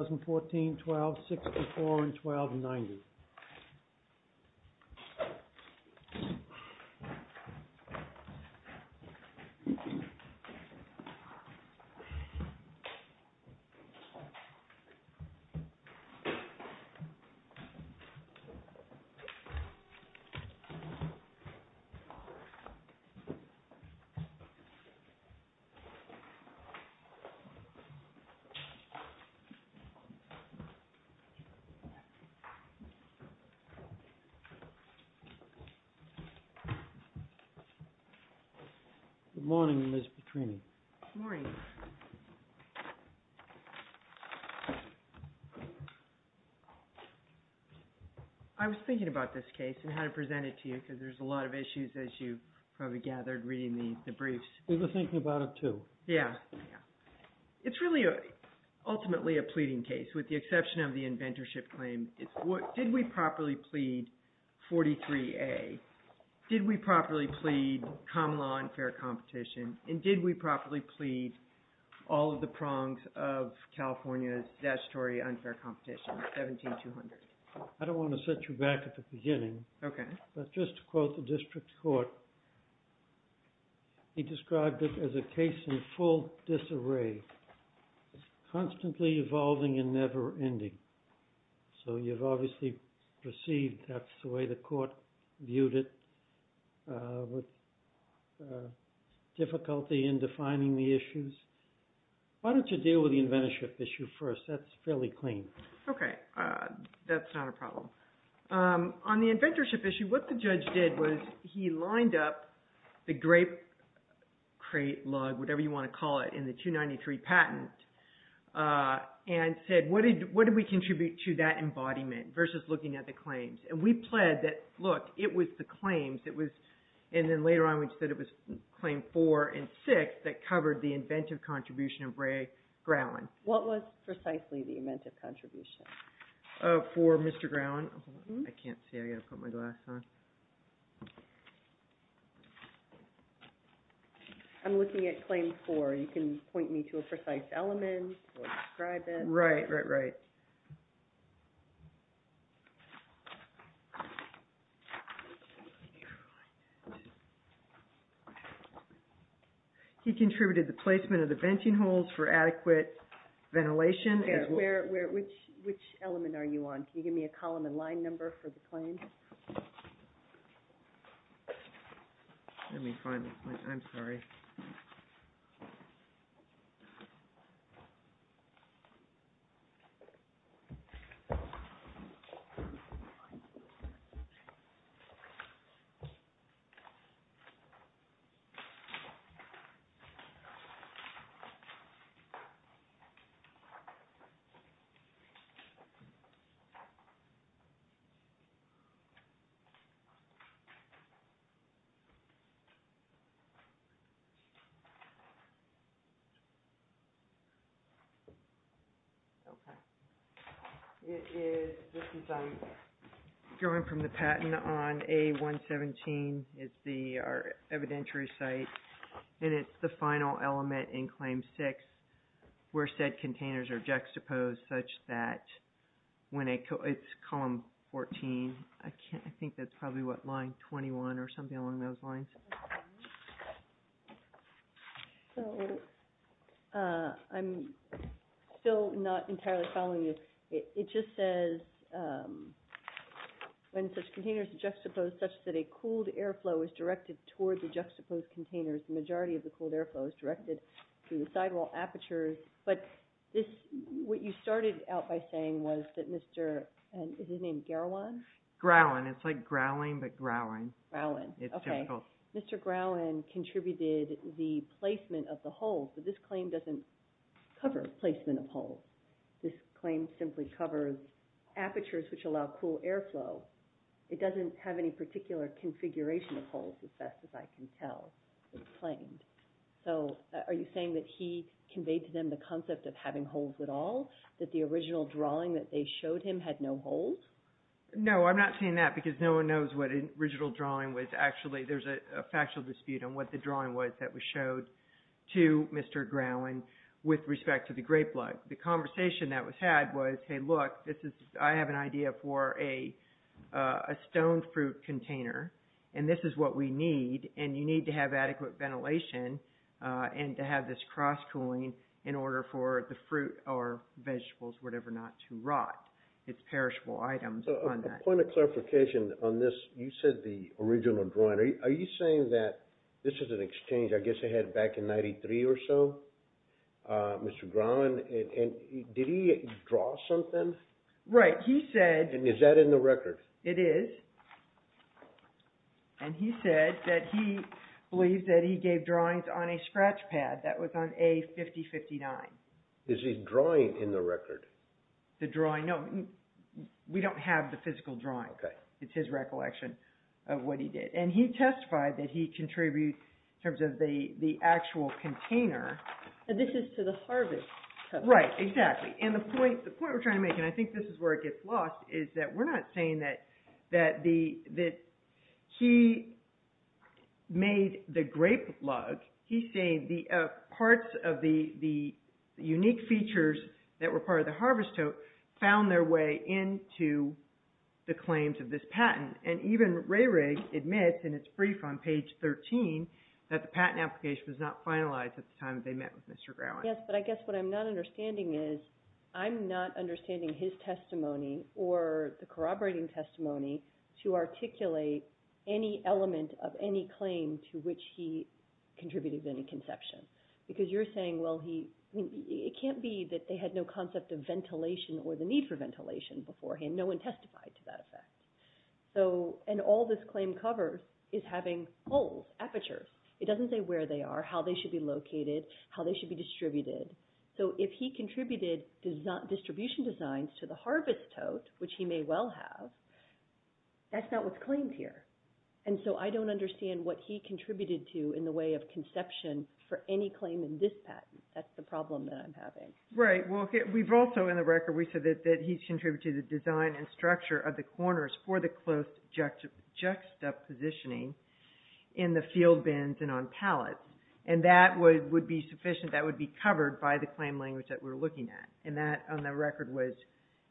2014-12-64 and 12-90 Good morning, Ms. Petrini. Good morning. I was thinking about this case and how to present it to you because there's a lot of issues as you probably gathered reading the briefs. We were thinking about it too. Yeah. It's really ultimately a pleading case with the exception of the inventorship claim. Did we properly plead 43A? Did we properly plead common law and fair competition? And did we properly plead all of the prongs of California's statutory unfair competition, 17-200? I don't want to set you back at the beginning. Okay. Just to quote the district court, he described it as a case in full disarray, constantly evolving and never ending. So you've obviously perceived that's the way the court viewed it with difficulty in defining the issues. Why don't you deal with the inventorship issue first? That's fairly clean. Okay. That's not a problem. On the inventorship issue, what the judge did was he lined up the grape crate, lug, whatever you want to call it, in the 293 patent and said, what did we contribute to that embodiment versus looking at the claims? And we pled that, look, it was the claims. And then later on we said it was Claim 4 and 6 that covered the inventive contribution of Ray Growen. What was precisely the inventive contribution? Oh, for Mr. Growen. I can't see. I've got to put my glass on. I'm looking at Claim 4. You can point me to a precise element or describe it. Right, right, right. He contributed the placement of the venting holes for adequate ventilation. Which element are you on? Can you give me a column and line number for the claim? Let me find it. I'm sorry. Okay. It is, this is, I'm drawing from the patent on A117. It's our evidentiary site. And it's the final element in Claim 6 where said containers are juxtaposed such that when a, it's column 14. I can't, I think that's probably what, line 21 or something along those lines. So I'm still not entirely following this. It just says when such containers are juxtaposed such that a cooled airflow is directed towards the juxtaposed containers, the majority of the cooled airflow is directed through the sidewall apertures. But this, what you started out by saying was that Mr., is his name Garawan? Growen. It's like growling, but growling. Growen. Okay. Mr. Growen contributed the placement of the holes, but this claim doesn't cover placement of holes. This claim simply covers apertures which allow cool airflow. It doesn't have any particular configuration of holes, as best as I can tell, this claim. So are you saying that he conveyed to them the concept of having holes at all? That the original drawing that they showed him had no holes? No, I'm not saying that because no one knows what the original drawing was. Actually, there's a factual dispute on what the drawing was that was showed to Mr. Growen with respect to the grape lug. The conversation that was had was, hey, look, I have an idea for a stone fruit container, and this is what we need, and you need to have adequate ventilation and to have this cross cooling in order for the fruit or vegetables, whatever, not to rot. It's perishable items. So a point of clarification on this. You said the original drawing. Are you saying that this is an exchange I guess they had back in 93 or so? Mr. Growen, did he draw something? Right. He said... And is that in the record? It is. And he said that he believed that he gave drawings on a scratch pad that was on A-50-59. Is his drawing in the record? The drawing? No, we don't have the physical drawing. It's his recollection of what he did. And he testified that he contributed in terms of the actual container. This is to the harvest. Right, exactly. And the point we're trying to make, and I think this is where it gets lost, is that we're not saying that he made the grape lug. He's saying parts of the unique features that were part of the harvest tote found their way into the claims of this patent. And even the hearing admits in its brief on page 13 that the patent application was not finalized at the time they met with Mr. Growen. Yes, but I guess what I'm not understanding is I'm not understanding his testimony or the corroborating testimony to articulate any element of any claim to which he contributed any conception. Because you're saying, well, it can't be that they had no concept of ventilation or the need for ventilation beforehand. No one testified to that effect. And all this claim covers is having holes, apertures. It doesn't say where they are, how they should be located, how they should be distributed. So if he contributed distribution designs to the harvest tote, which he may well have, that's not what's claimed here. And so I don't understand what he contributed to in the way of conception for any claim in this patent. That's the problem that I'm having. Right. Well, we've also in the record, we said that he's contributed to the design and structure of the corners for the close juxtapositioning in the field bins and on pallets. And that would be sufficient, that would be covered by the claim language that we're looking at. And that on the record was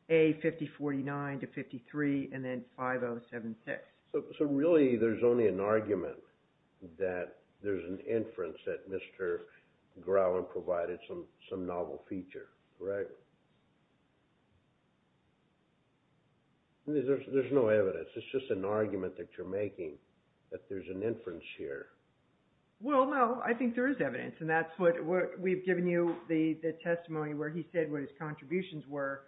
A5049 to 53 and then 5076. So really there's only an argument that there's an inference that Mr. Growen provided some novel feature, correct? There's no evidence. It's just an argument that you're making that there's an inference here. Well, no, I think there is evidence. And that's what we've given you the testimony where he said what his contributions were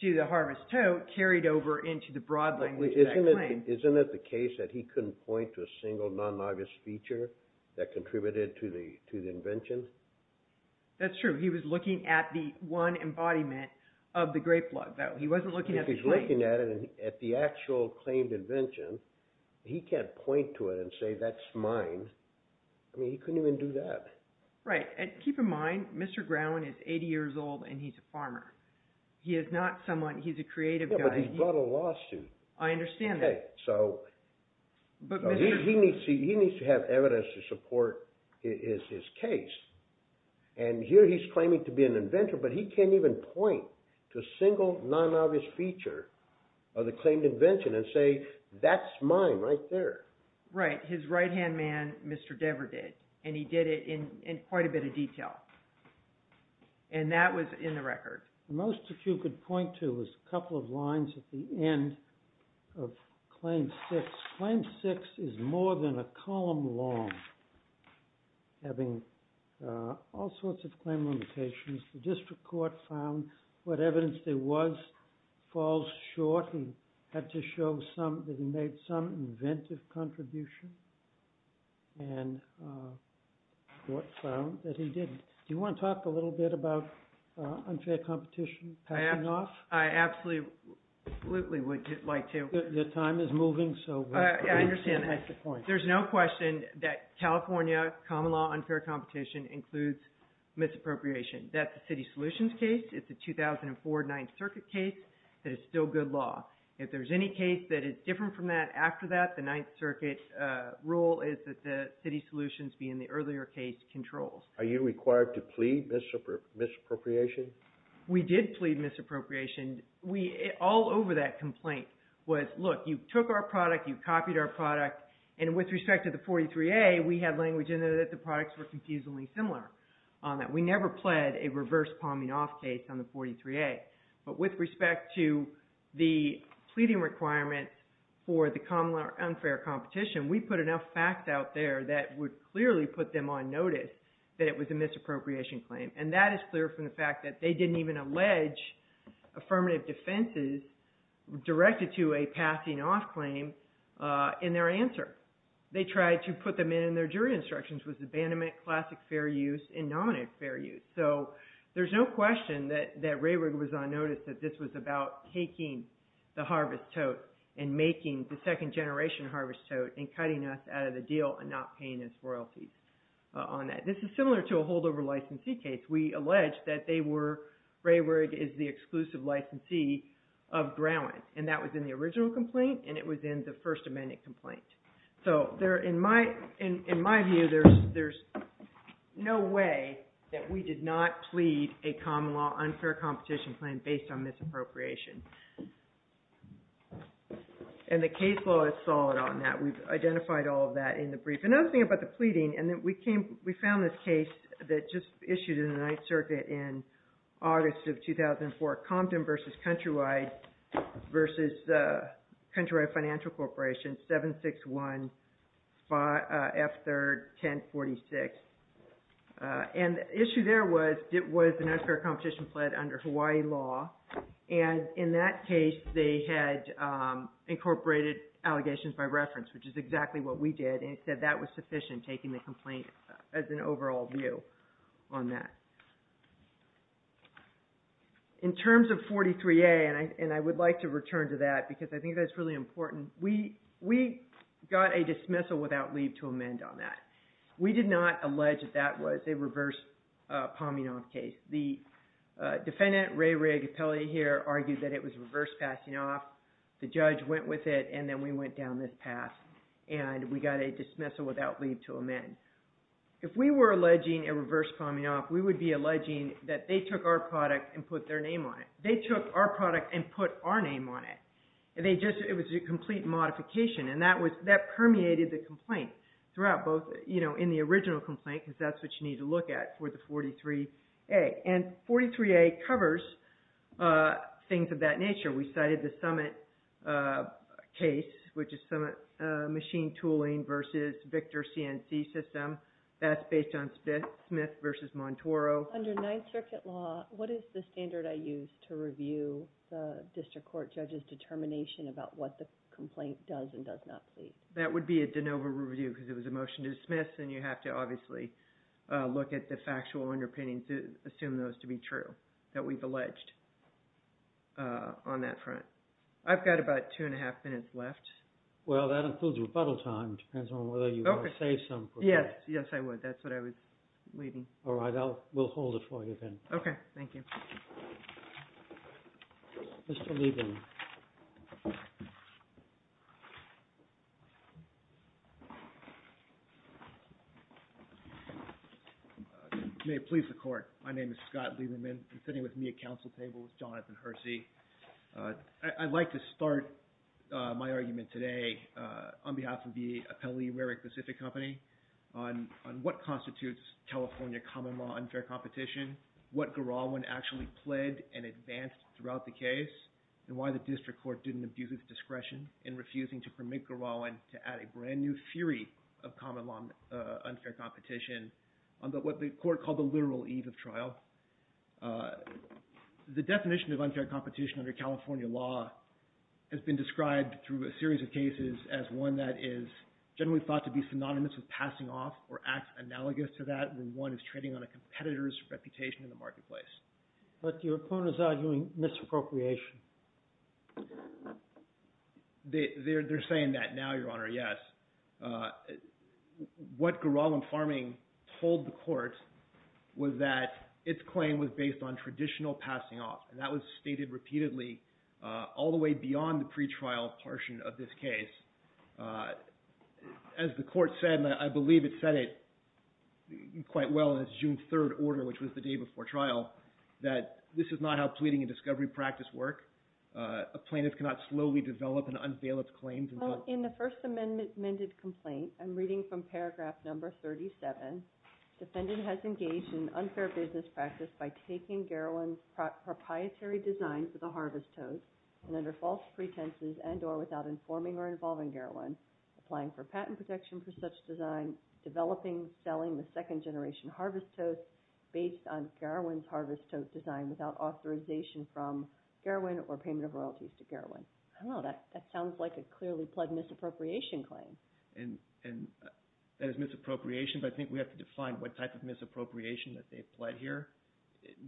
to the harvest tote carried over into the broad language of that claim. Isn't it the case that he couldn't point to a single non-novice feature that contributed to the invention? That's true. He was looking at the one embodiment of the grape blood though. He wasn't looking at the claim. If he's looking at it, at the actual claimed invention, he can't point to it and say that's mine. I mean, he couldn't even do that. Right. And keep in mind, Mr. Growen is 80 years old and he's a farmer. He is not someone, he's a creative guy. Yeah, but he brought a lawsuit. I understand that. But he needs to have evidence to support his case. And here he's claiming to be an inventor, but he can't even point to a single non-novice feature of the claimed invention and say, that's mine right there. Right. His right-hand man, Mr. Dever, did. And he did it in quite a bit of detail. And that was in the record. Most that you could point to was a couple of lines at the end of claim six. Claim six is more than a column long, having all sorts of claim limitations. The district court found what evidence there was falls short. He had to show that he made some inventive contribution. And the court found that he did. Do you want to talk a little bit about unfair competition? I absolutely would like to. The time is moving, so... I understand. There's no question that California common law unfair competition includes misappropriation. That's a city solutions case. It's a 2004 Ninth Circuit case that is still good law. If there's any case that is different from that after that, the Ninth Circuit rule is that the city solutions be in the earlier case controls. Are you required to plead misappropriation? We did plead misappropriation. All over that complaint was, look, you took our product, you copied our product. And with respect to the 43A, we had language in there that the products were confusingly similar on that. We never pled a reverse palming off case on the 43A. But with respect to the pleading requirements for the common law unfair competition, we put enough facts out there that would clearly put them on notice that it was a misappropriation claim. And that is clear from the fact that they didn't even allege affirmative defenses directed to a passing off claim in their answer. They tried to put them in their jury instructions with abandonment, classic fair use, and nominative fair use. So there's no question that Rayrig was on notice that this was about taking the harvest tote and making the second generation harvest tote and cutting us out of the deal and not paying us royalties on that. This is similar to a holdover licensee case. We alleged that they were, Rayrig is the exclusive licensee of Growen. And that was in the original complaint and it was in the First Amendment complaint. So in my view, there's no way that we did not plead a common law unfair competition claim based on misappropriation. And the case law is solid on that. We've identified all of that in the brief. Another thing about the pleading, and we found this case that just issued in the Ninth Circuit in August of 2004, Compton v. Countrywide v. Countrywide Financial Corporation, 761-F3-1046. And the issue there was it was an unfair competition pled under Hawaii law. And in that case, they had incorporated allegations by reference, which is exactly what we did. And it said that was sufficient, taking the complaint as an overall view on that. In terms of 43A, and I would like to return to that, because I think that's really important. We got a dismissal without leave to amend on that. We did not allege that that was a reverse pomming off case. The defendant, Rayrig, appellate here, argued that it was reverse passing off. The judge went with it and then we went down this path. And we got a dismissal without leave to amend. If we were alleging a reverse pomming off, we would be alleging that they took our product and put their name on it. They took our product and put our name on it. It was a complete modification. And that permeated the complaint throughout, both in the original complaint, because that's what you need to look at for the 43A. And 43A covers things of that nature. We cited the summit case, which is machine tooling versus Victor CNC system. That's based on Smith versus Montoro. Under Ninth Circuit law, what is the standard I use to review the district court judge's determination about what the complaint does and does not plead? That would be a de novo review, because it was a motion to dismiss. And you have to obviously look at the factual underpinnings to assume those to be true, that we've alleged on that front. I've got about two and a half minutes left. Well, that includes rebuttal time. It depends on whether you want to say something. Yes. Yes, I would. That's what I was leaving. All right. We'll hold it for you then. Okay. Thank you. Mr. Lieberman. May it please the court. My name is Scott Lieberman. And sitting with me at council table is Jonathan Hersey. I'd like to start my argument today on behalf of the appellee, Rarick Pacific Company, on what constitutes California common law unfair competition, what Garawan actually pled and advanced throughout the case, and why the district court didn't abuse its discretion in refusing to permit Garawan to add a brand new theory of common law unfair competition on what the court called the literal eve of trial. The definition of unfair competition under California law has been described through a series of cases as one that is generally thought to be synonymous with passing off or acts analogous to that when one is trading on a competitor's reputation in the marketplace. But your opponent is arguing misappropriation. They're saying that now, Your Honor, yes. What Garawan Farming told the court was that its claim was based on traditional passing off. And that was stated repeatedly all the way beyond the pretrial portion of this case. As the court said, and I believe it said it quite well in its June 3rd order, which was the day before trial, that this is not how pleading and discovery practice work. A plaintiff cannot slowly develop and unveil its claims. In the First Amendment mended complaint, I'm reading from paragraph number 37. Defendant has engaged in unfair business practice by taking Garawan's proprietary design for the harvest toast, and under false pretenses and or without informing or involving Garawan, applying for patent protection for such design, developing, selling the second generation harvest toast based on Garawan's harvest toast design without authorization from Garawan or payment of royalties to Garawan. I don't know, that sounds like a clearly pled misappropriation claim. And that is misappropriation, but I think we have to define what type of misappropriation that they've pled here.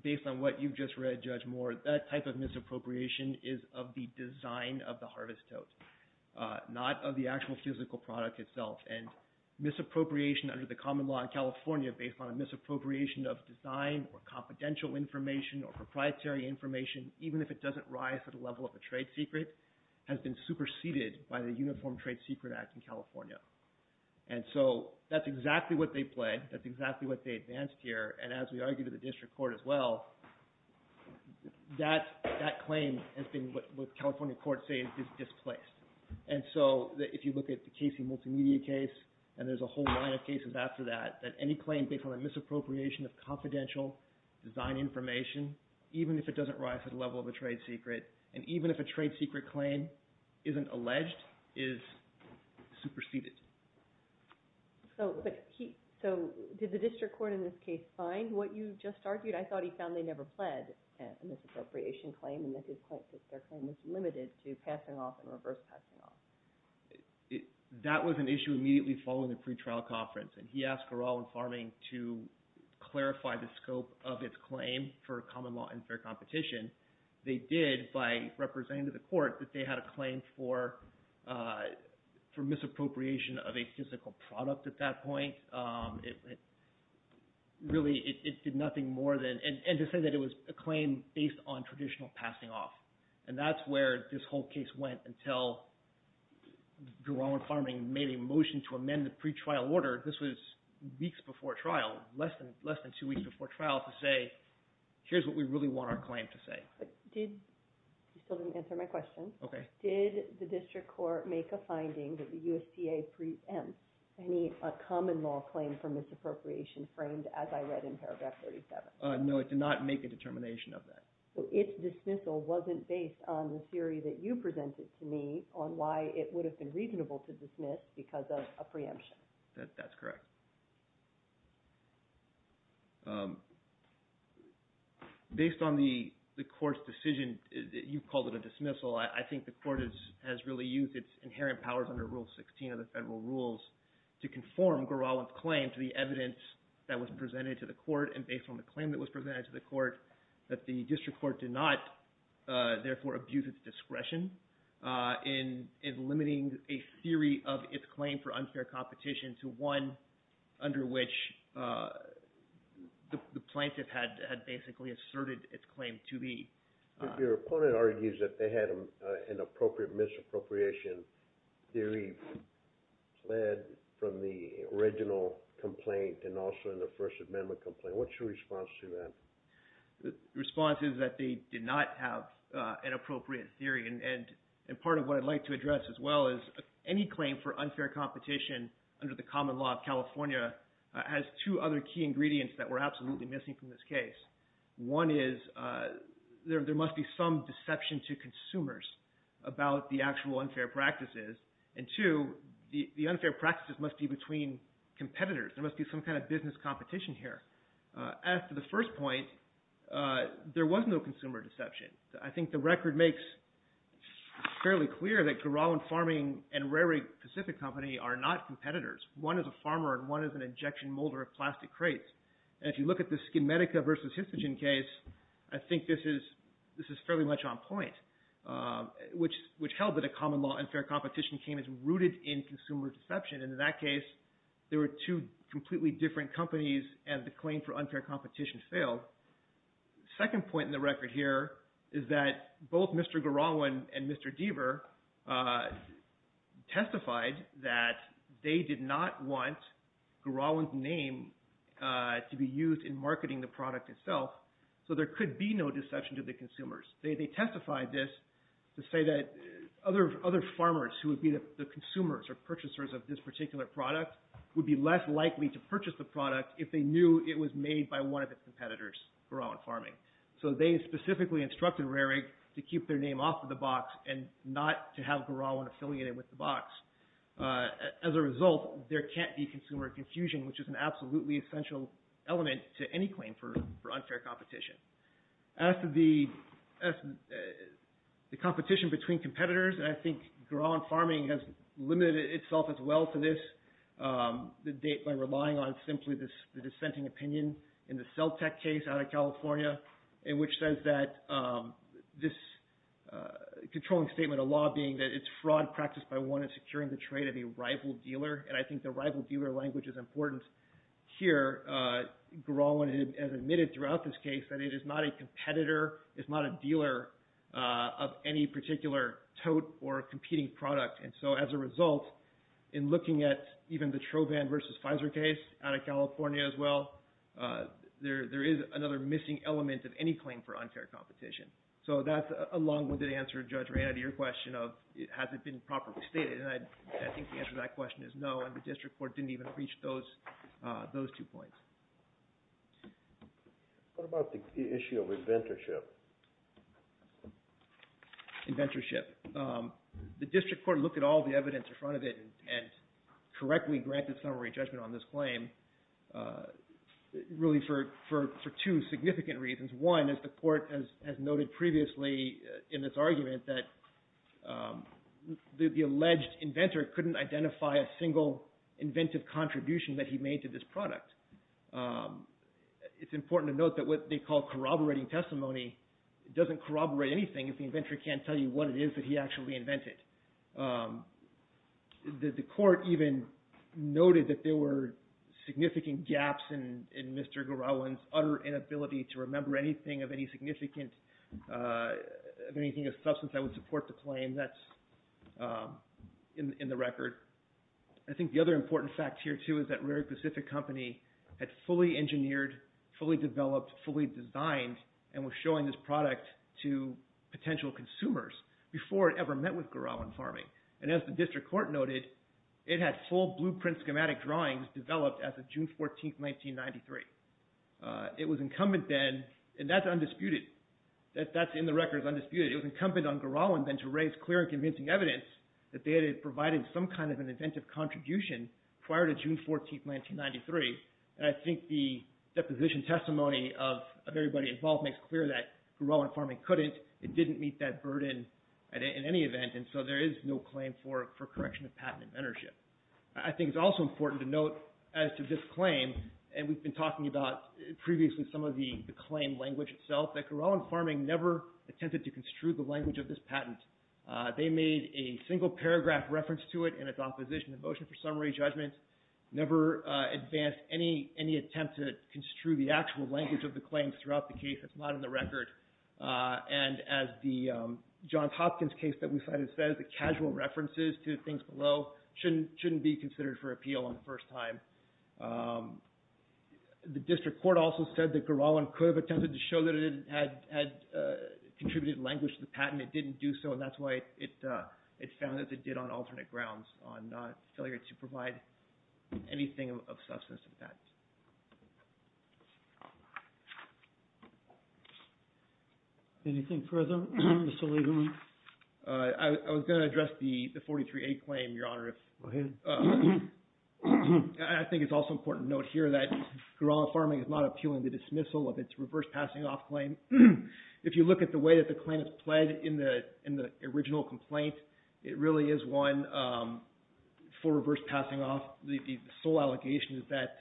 Based on what you've just read, Judge Moore, that type of misappropriation is of the design of the harvest toast, not of the actual physical product itself. And misappropriation under the common law in California, based on a misappropriation of design or confidential information or proprietary information, even if it doesn't rise to the level of a trade secret, has been superseded by the Uniform Trade Secret Act in California. And so that's exactly what they pled. That's exactly what they advanced here. And as we argue to the district court as well, that claim has been what California courts say is displaced. And so if you look at the Casey Multimedia case, and there's a whole line of cases after that, that any claim based on a misappropriation of confidential design information, even if it doesn't rise to the level of a trade secret, and even if a trade secret claim isn't alleged, is superseded. So did the district court in this case find what you just argued? I thought he found they never pled a misappropriation claim and that their claim was limited to passing off and reverse passing off. That was an issue immediately following the pretrial conference. And he asked Garaldin Farming to clarify the scope of its claim for common law and fair competition. They did by representing to the court that they had a claim for misappropriation of a physical product at that point. Really, it did nothing more than... And to say that it was a claim based on traditional passing off. And that's where this whole case went until Garaldin Farming made a motion to amend the pretrial order. This was weeks before trial, less than two weeks before trial, to say, here's what we really want our claim to say. But did... You still didn't answer my question. Okay. Did the district court make a finding that the USTA preempts any common law claim for misappropriation framed as I read in paragraph 37? No, it did not make a determination of that. Its dismissal wasn't based on the theory that you presented to me on why it would have been reasonable to dismiss because of a preemption. That's correct. Based on the court's decision, you called it a dismissal. I think the court has really used its inherent powers under Rule 16 of the federal rules to conform Garaldin's claim to the evidence that was presented to the court. And based on the claim that was presented to the court, that the district court did not therefore abuse its discretion in limiting a theory of its claim for unfair competition to one under which the plaintiff had basically asserted its claim to be. Your opponent argues that they had an appropriate misappropriation theory fled from the original complaint and also in the First Amendment complaint. What's your response to that? The response is that they did not have an appropriate theory. And part of what I'd like to address as well is any claim for unfair competition under the common law of California has two other key ingredients that we're absolutely missing from this case. One is there must be some deception to consumers about the actual unfair practices. And two, the unfair practices must be between competitors. There must be some kind of business competition here. As to the first point, there was no consumer deception. I think the record makes fairly clear that Guralen Farming and Rarig Pacific Company are not competitors. One is a farmer and one is an injection molder of plastic crates. And if you look at the Skidmedica versus Histogen case, I think this is fairly much on point, which held that a common law unfair competition came as rooted in consumer deception. And in that case, there were two completely different companies and the claim for unfair competition failed. The second point in the record here is that both Mr. Guralen and Mr. Deaver testified that they did not want Guralen's name to be used in marketing the product itself. So there could be no deception to the consumers. They testified this to say that other farmers who would be the consumers or purchasers of this particular product would be less likely to purchase the product if they knew it was made by one of its competitors, Guralen Farming. So they specifically instructed Rarig to keep their name off of the box and not to have Guralen affiliated with the box. As a result, there can't be consumer confusion, which is an absolutely essential element to any claim for unfair competition. As to the competition between competitors, and I think Guralen Farming has limited itself as well to this, the date by relying on simply the dissenting opinion in the Celltech case out of California, in which says that this controlling statement, a law being that it's fraud practiced by one in securing the trade of a rival dealer. And I think the rival dealer language is important here. Guralen has admitted throughout this case that it is not a competitor, it's not a dealer of any particular tote or competing product. And so as a result, in looking at even the Trovan versus Pfizer case out of California as well, there is another missing element of any claim for unfair competition. So that's a long-winded answer, Judge Reynad, to your question of has it been properly stated. And I think the answer to that question is no, and the district court didn't even reach those two points. What about the issue of inventorship? Inventorship. The district court looked at all the evidence in front of it and correctly granted summary judgment on this claim, really for two significant reasons. One, as the court has noted previously in this argument, that the alleged inventor couldn't identify a single inventive contribution that he made to this product. It's important to note that what they call corroborating testimony doesn't corroborate anything if the inventor can't tell you what it is that he actually invented. The court even noted that there were significant gaps in Mr. Garawan's utter inability to remember anything of any significant, of anything of substance that would support the claim. That's in the record. I think the other important fact here, too, is that Rare Pacific Company had fully engineered, fully developed, fully designed, and was showing this product to potential consumers before it ever met with Garawan Farming. And as the district court noted, it had full blueprint schematic drawings developed as of June 14, 1993. It was incumbent then, and that's undisputed, that's in the record as undisputed, it was incumbent on Garawan then to raise clear and convincing evidence that they had provided some kind of an inventive contribution prior to June 14, 1993. And I think the deposition testimony of everybody involved makes clear that Garawan Farming couldn't, it didn't meet that burden in any event, and so there is no claim for correction of patent inventorship. I think it's also important to note as to this claim, and we've been talking about previously some of the claim language itself, that Garawan Farming never attempted to construe the language of this patent. They made a single paragraph reference to it in its opposition to motion for summary judgment, never advanced any attempt to construe the actual language of the claims throughout the case, it's not in the record. And as the Johns Hopkins case that we cited says, the casual references to things below shouldn't be considered for appeal on the first time. The district court also said that Garawan could have attempted to show that it had contributed language to the patent, it didn't do so, and that's why it found that it did on alternate grounds, on failure to provide anything of substance to the patent. Anything further, Mr. Lieberman? I was going to address the 43A claim, Your Honor, if... Go ahead. I think it's also important to note here that Garawan Farming is not appealing the dismissal of its reverse passing off claim. If you look at the way that the claim is played in the original complaint, it really is one for reverse passing off. The sole allegation is that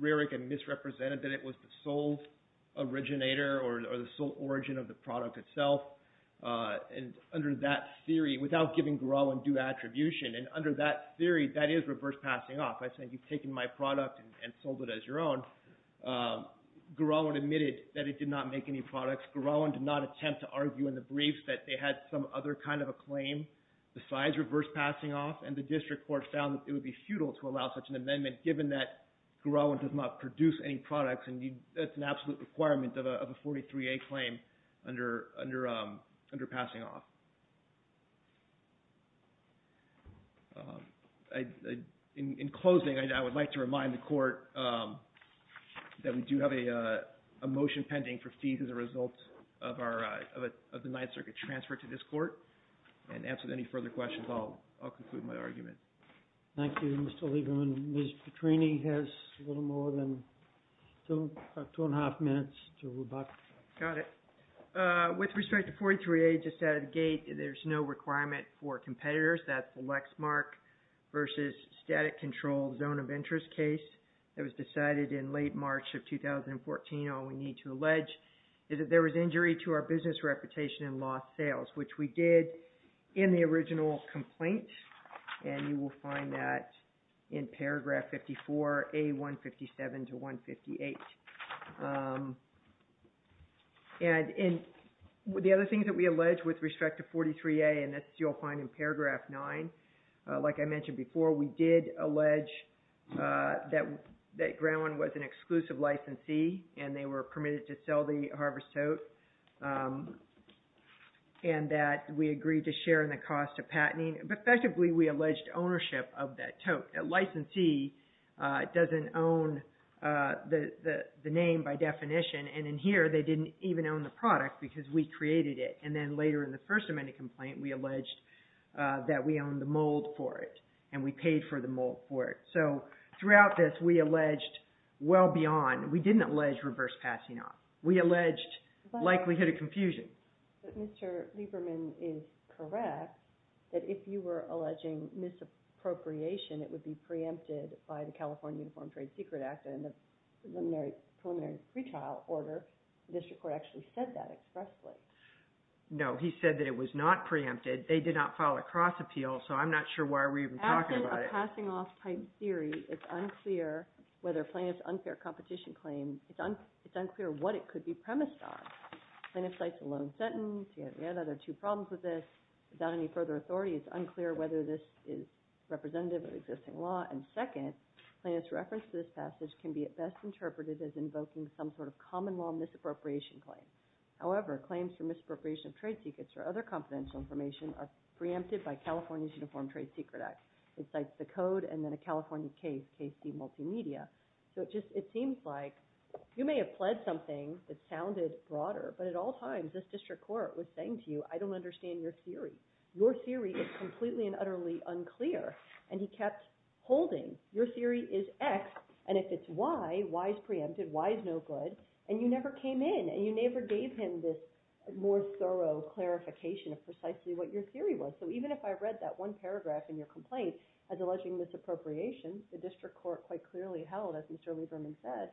Rarick had misrepresented that it was the sole originator or the sole origin of the product itself, and under that theory, without giving Garawan due attribution, and under that theory, that is reverse passing off. I think you've taken my product and sold it as your own. Garawan admitted that it did not make any products. Garawan did not attempt to argue in the briefs that they had some other kind of a claim besides reverse passing off, and the district court found that it would be futile to allow such an amendment, given that Garawan does not produce any products, and that's an absolute requirement of a 43A claim under passing off. In closing, I would like to remind the court that we do have a motion pending for fees as a result of the Ninth Circuit transfer to this court, and as with any further questions, I'll conclude my argument. Thank you, Mr. Lieberman. Ms. Petrini has a little more than two and a half minutes to rebut. Got it. With respect to 43A, just out of the gate, there's no requirement for competitors. That's the Lexmark versus static control zone of interest case. It was decided in late March of 2014, all we need to allege is that there was injury to our business reputation and lost sales, which we did in the original complaint, and you will find that in paragraph 54A157 to 158. The other thing that we allege with respect to 43A, and this you'll find in paragraph 9, like I mentioned before, we did allege that Garawan was an exclusive licensee, and they were permitted to sell the harvest tote, and that we agreed to share in the cost of patenting, but effectively, we alleged ownership of that tote. A licensee doesn't own the name by definition, and in here, they didn't even own the product because we created it, and then later in the First Amendment complaint, we alleged that we owned the mold for it, and we paid for the mold for it. So throughout this, we alleged well beyond. We didn't allege reverse passing off. We alleged likelihood of confusion. But Mr. Lieberman is correct that if you were alleging misappropriation, it would be preempted by the California Uniform Trade Secret Act and the preliminary pretrial order. The district court actually said that expressly. No, he said that it was not preempted. They did not file a cross appeal, so I'm not sure why we're even talking about it. Passing off patent theory, it's unclear whether plaintiff's unfair competition claim, it's unclear what it could be premised on. Plaintiff cites a loan sentence. We had other two problems with this. Without any further authority, it's unclear whether this is representative of existing law, and second, plaintiff's reference to this passage can be at best interpreted as invoking some sort of common law misappropriation claim. However, claims for misappropriation of trade secrets or other confidential information are preempted by California's Uniform Trade Secret Act. It cites the code and then a California case, KC Multimedia. It seems like you may have pled something that sounded broader, but at all times, this district court was saying to you, I don't understand your theory. Your theory is completely and utterly unclear, and he kept holding. Your theory is X, and if it's Y, Y is preempted. Y is no good, and you never came in, and you never gave him this more thorough clarification of precisely what your theory was. So even if I read that one paragraph in your complaint as alleging misappropriation, the district court quite clearly held, as Mr. Lieberman said,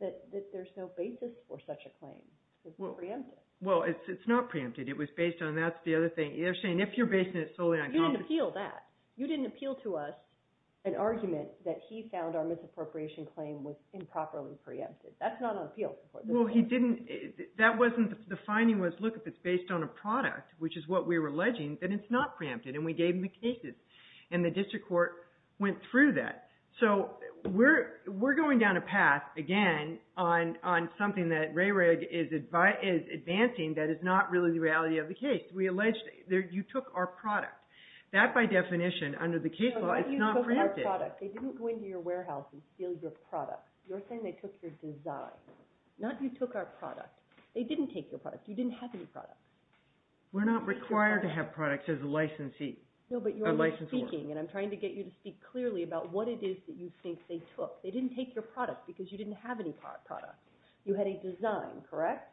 that there's no basis for such a claim. It's preempted. Well, it's not preempted. It was based on, that's the other thing. You're saying if you're basing it solely on confidentiality. You didn't appeal that. You didn't appeal to us an argument that he found our misappropriation claim was improperly preempted. That's not on appeal. Well, he didn't, that wasn't, the finding was, look, if it's based on a product, which is what we were alleging, then it's not preempted, and we gave him the cases, and the district court went through that. So we're going down a path, again, on something that RARIG is advancing that is not really the reality of the case. We alleged you took our product. That, by definition, under the case law, it's not preempted. They didn't go into your warehouse and steal your product. You're saying they took your design, not you took our product. They didn't take your product. You didn't have any product. We're not required to have products as a licensee. No, but you are speaking, and I'm trying to get you to speak clearly about what it is that you think they took. They didn't take your product because you didn't have any product. You had a design, correct?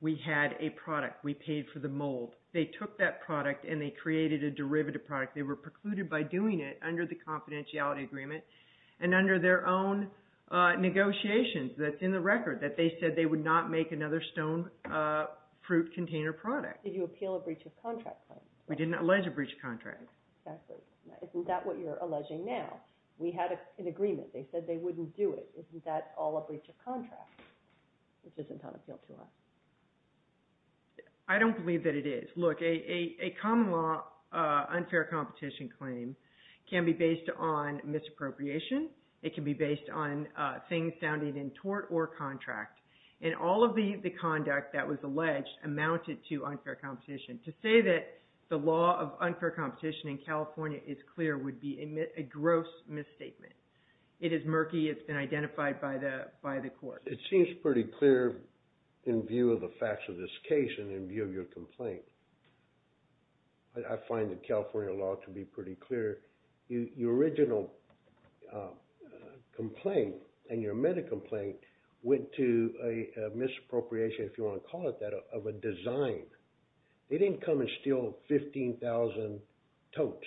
We had a product. We paid for the mold. They took that product, and they created a derivative product. They were precluded by doing it under the confidentiality agreement and under their own negotiations that's in the record, that they said they would not make another stone fruit container product. Did you appeal a breach of contract claim? We didn't allege a breach of contract. Exactly. Isn't that what you're alleging now? We had an agreement. They said they wouldn't do it. Isn't that all a breach of contract, which isn't on appeal to us? I don't believe that it is. Look, a common law unfair competition claim can be based on misappropriation. It can be based on things sounding in tort or contract. And all of the conduct that was alleged amounted to unfair competition. To say that the law of unfair competition in California is clear would be a gross misstatement. It is murky. It's been identified by the court. It seems pretty clear in view of the facts of this case and in view of your complaint. I find the California law to be pretty clear. Your original complaint and your meta-complaint went to a misappropriation, if you want to call it that, of a design. They didn't come and steal 15,000 totes.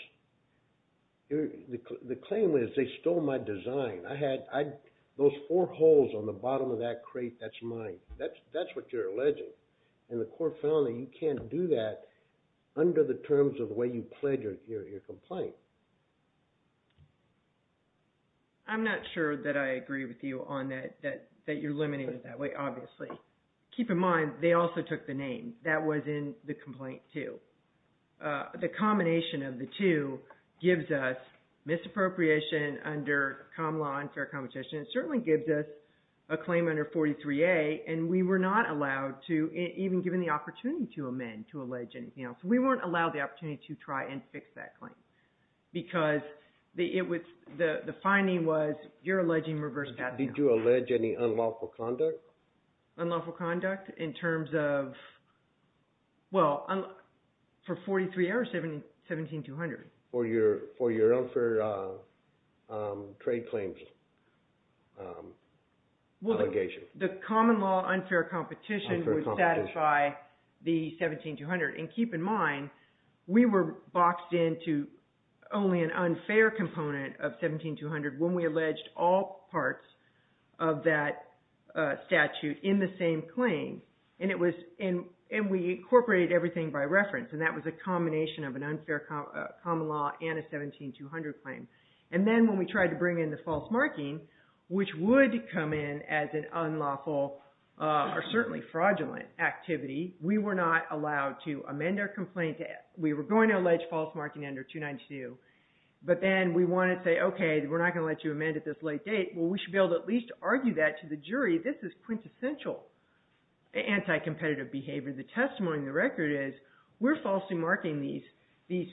The claim was they stole my design. Those four holes on the bottom of that crate, that's mine. That's what you're alleging. And the court found that you can't do that under the terms of the way you pledged your complaint. I'm not sure that I agree with you that you're limiting it that way, obviously. Keep in mind, they also took the name. That was in the complaint too. The combination of the two gives us misappropriation under common law and fair competition. It certainly gives us a claim under 43A and we were not allowed to, even given the opportunity to amend, to allege anything else. We weren't allowed the opportunity to try and fix that claim because the finding was you're alleging reverse patent. Did you allege any unlawful conduct? Unlawful conduct in terms of, well, for 43A or 17-200? For your unfair trade claims allegation. The common law unfair competition would satisfy the 17-200. And keep in mind, we were boxed into only an unfair component of 17-200 when we alleged all parts of that statute in the same claim. And we incorporated everything by reference. And that was a combination of an unfair common law and a 17-200 claim. And then when we tried to bring in the false marking, which would come in as an unlawful or certainly fraudulent activity, we were not allowed to amend our complaint. We were going to allege false marking under 292. But then we want to say, we're not going to let you amend at this late date. Well, we should be able to at least argue that to the jury. This is quintessential anti-competitive behavior. The testimony in the record is we're falsely marking these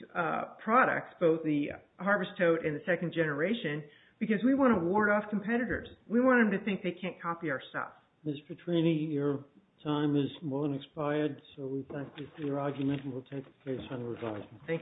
products, both the Harvest Toad and the second generation, because we want to ward off competitors. We want them to think they can't copy our stuff. Ms. Petrini, your time has long expired. So we thank you for your argument and we'll take the case on revisement. Thank you.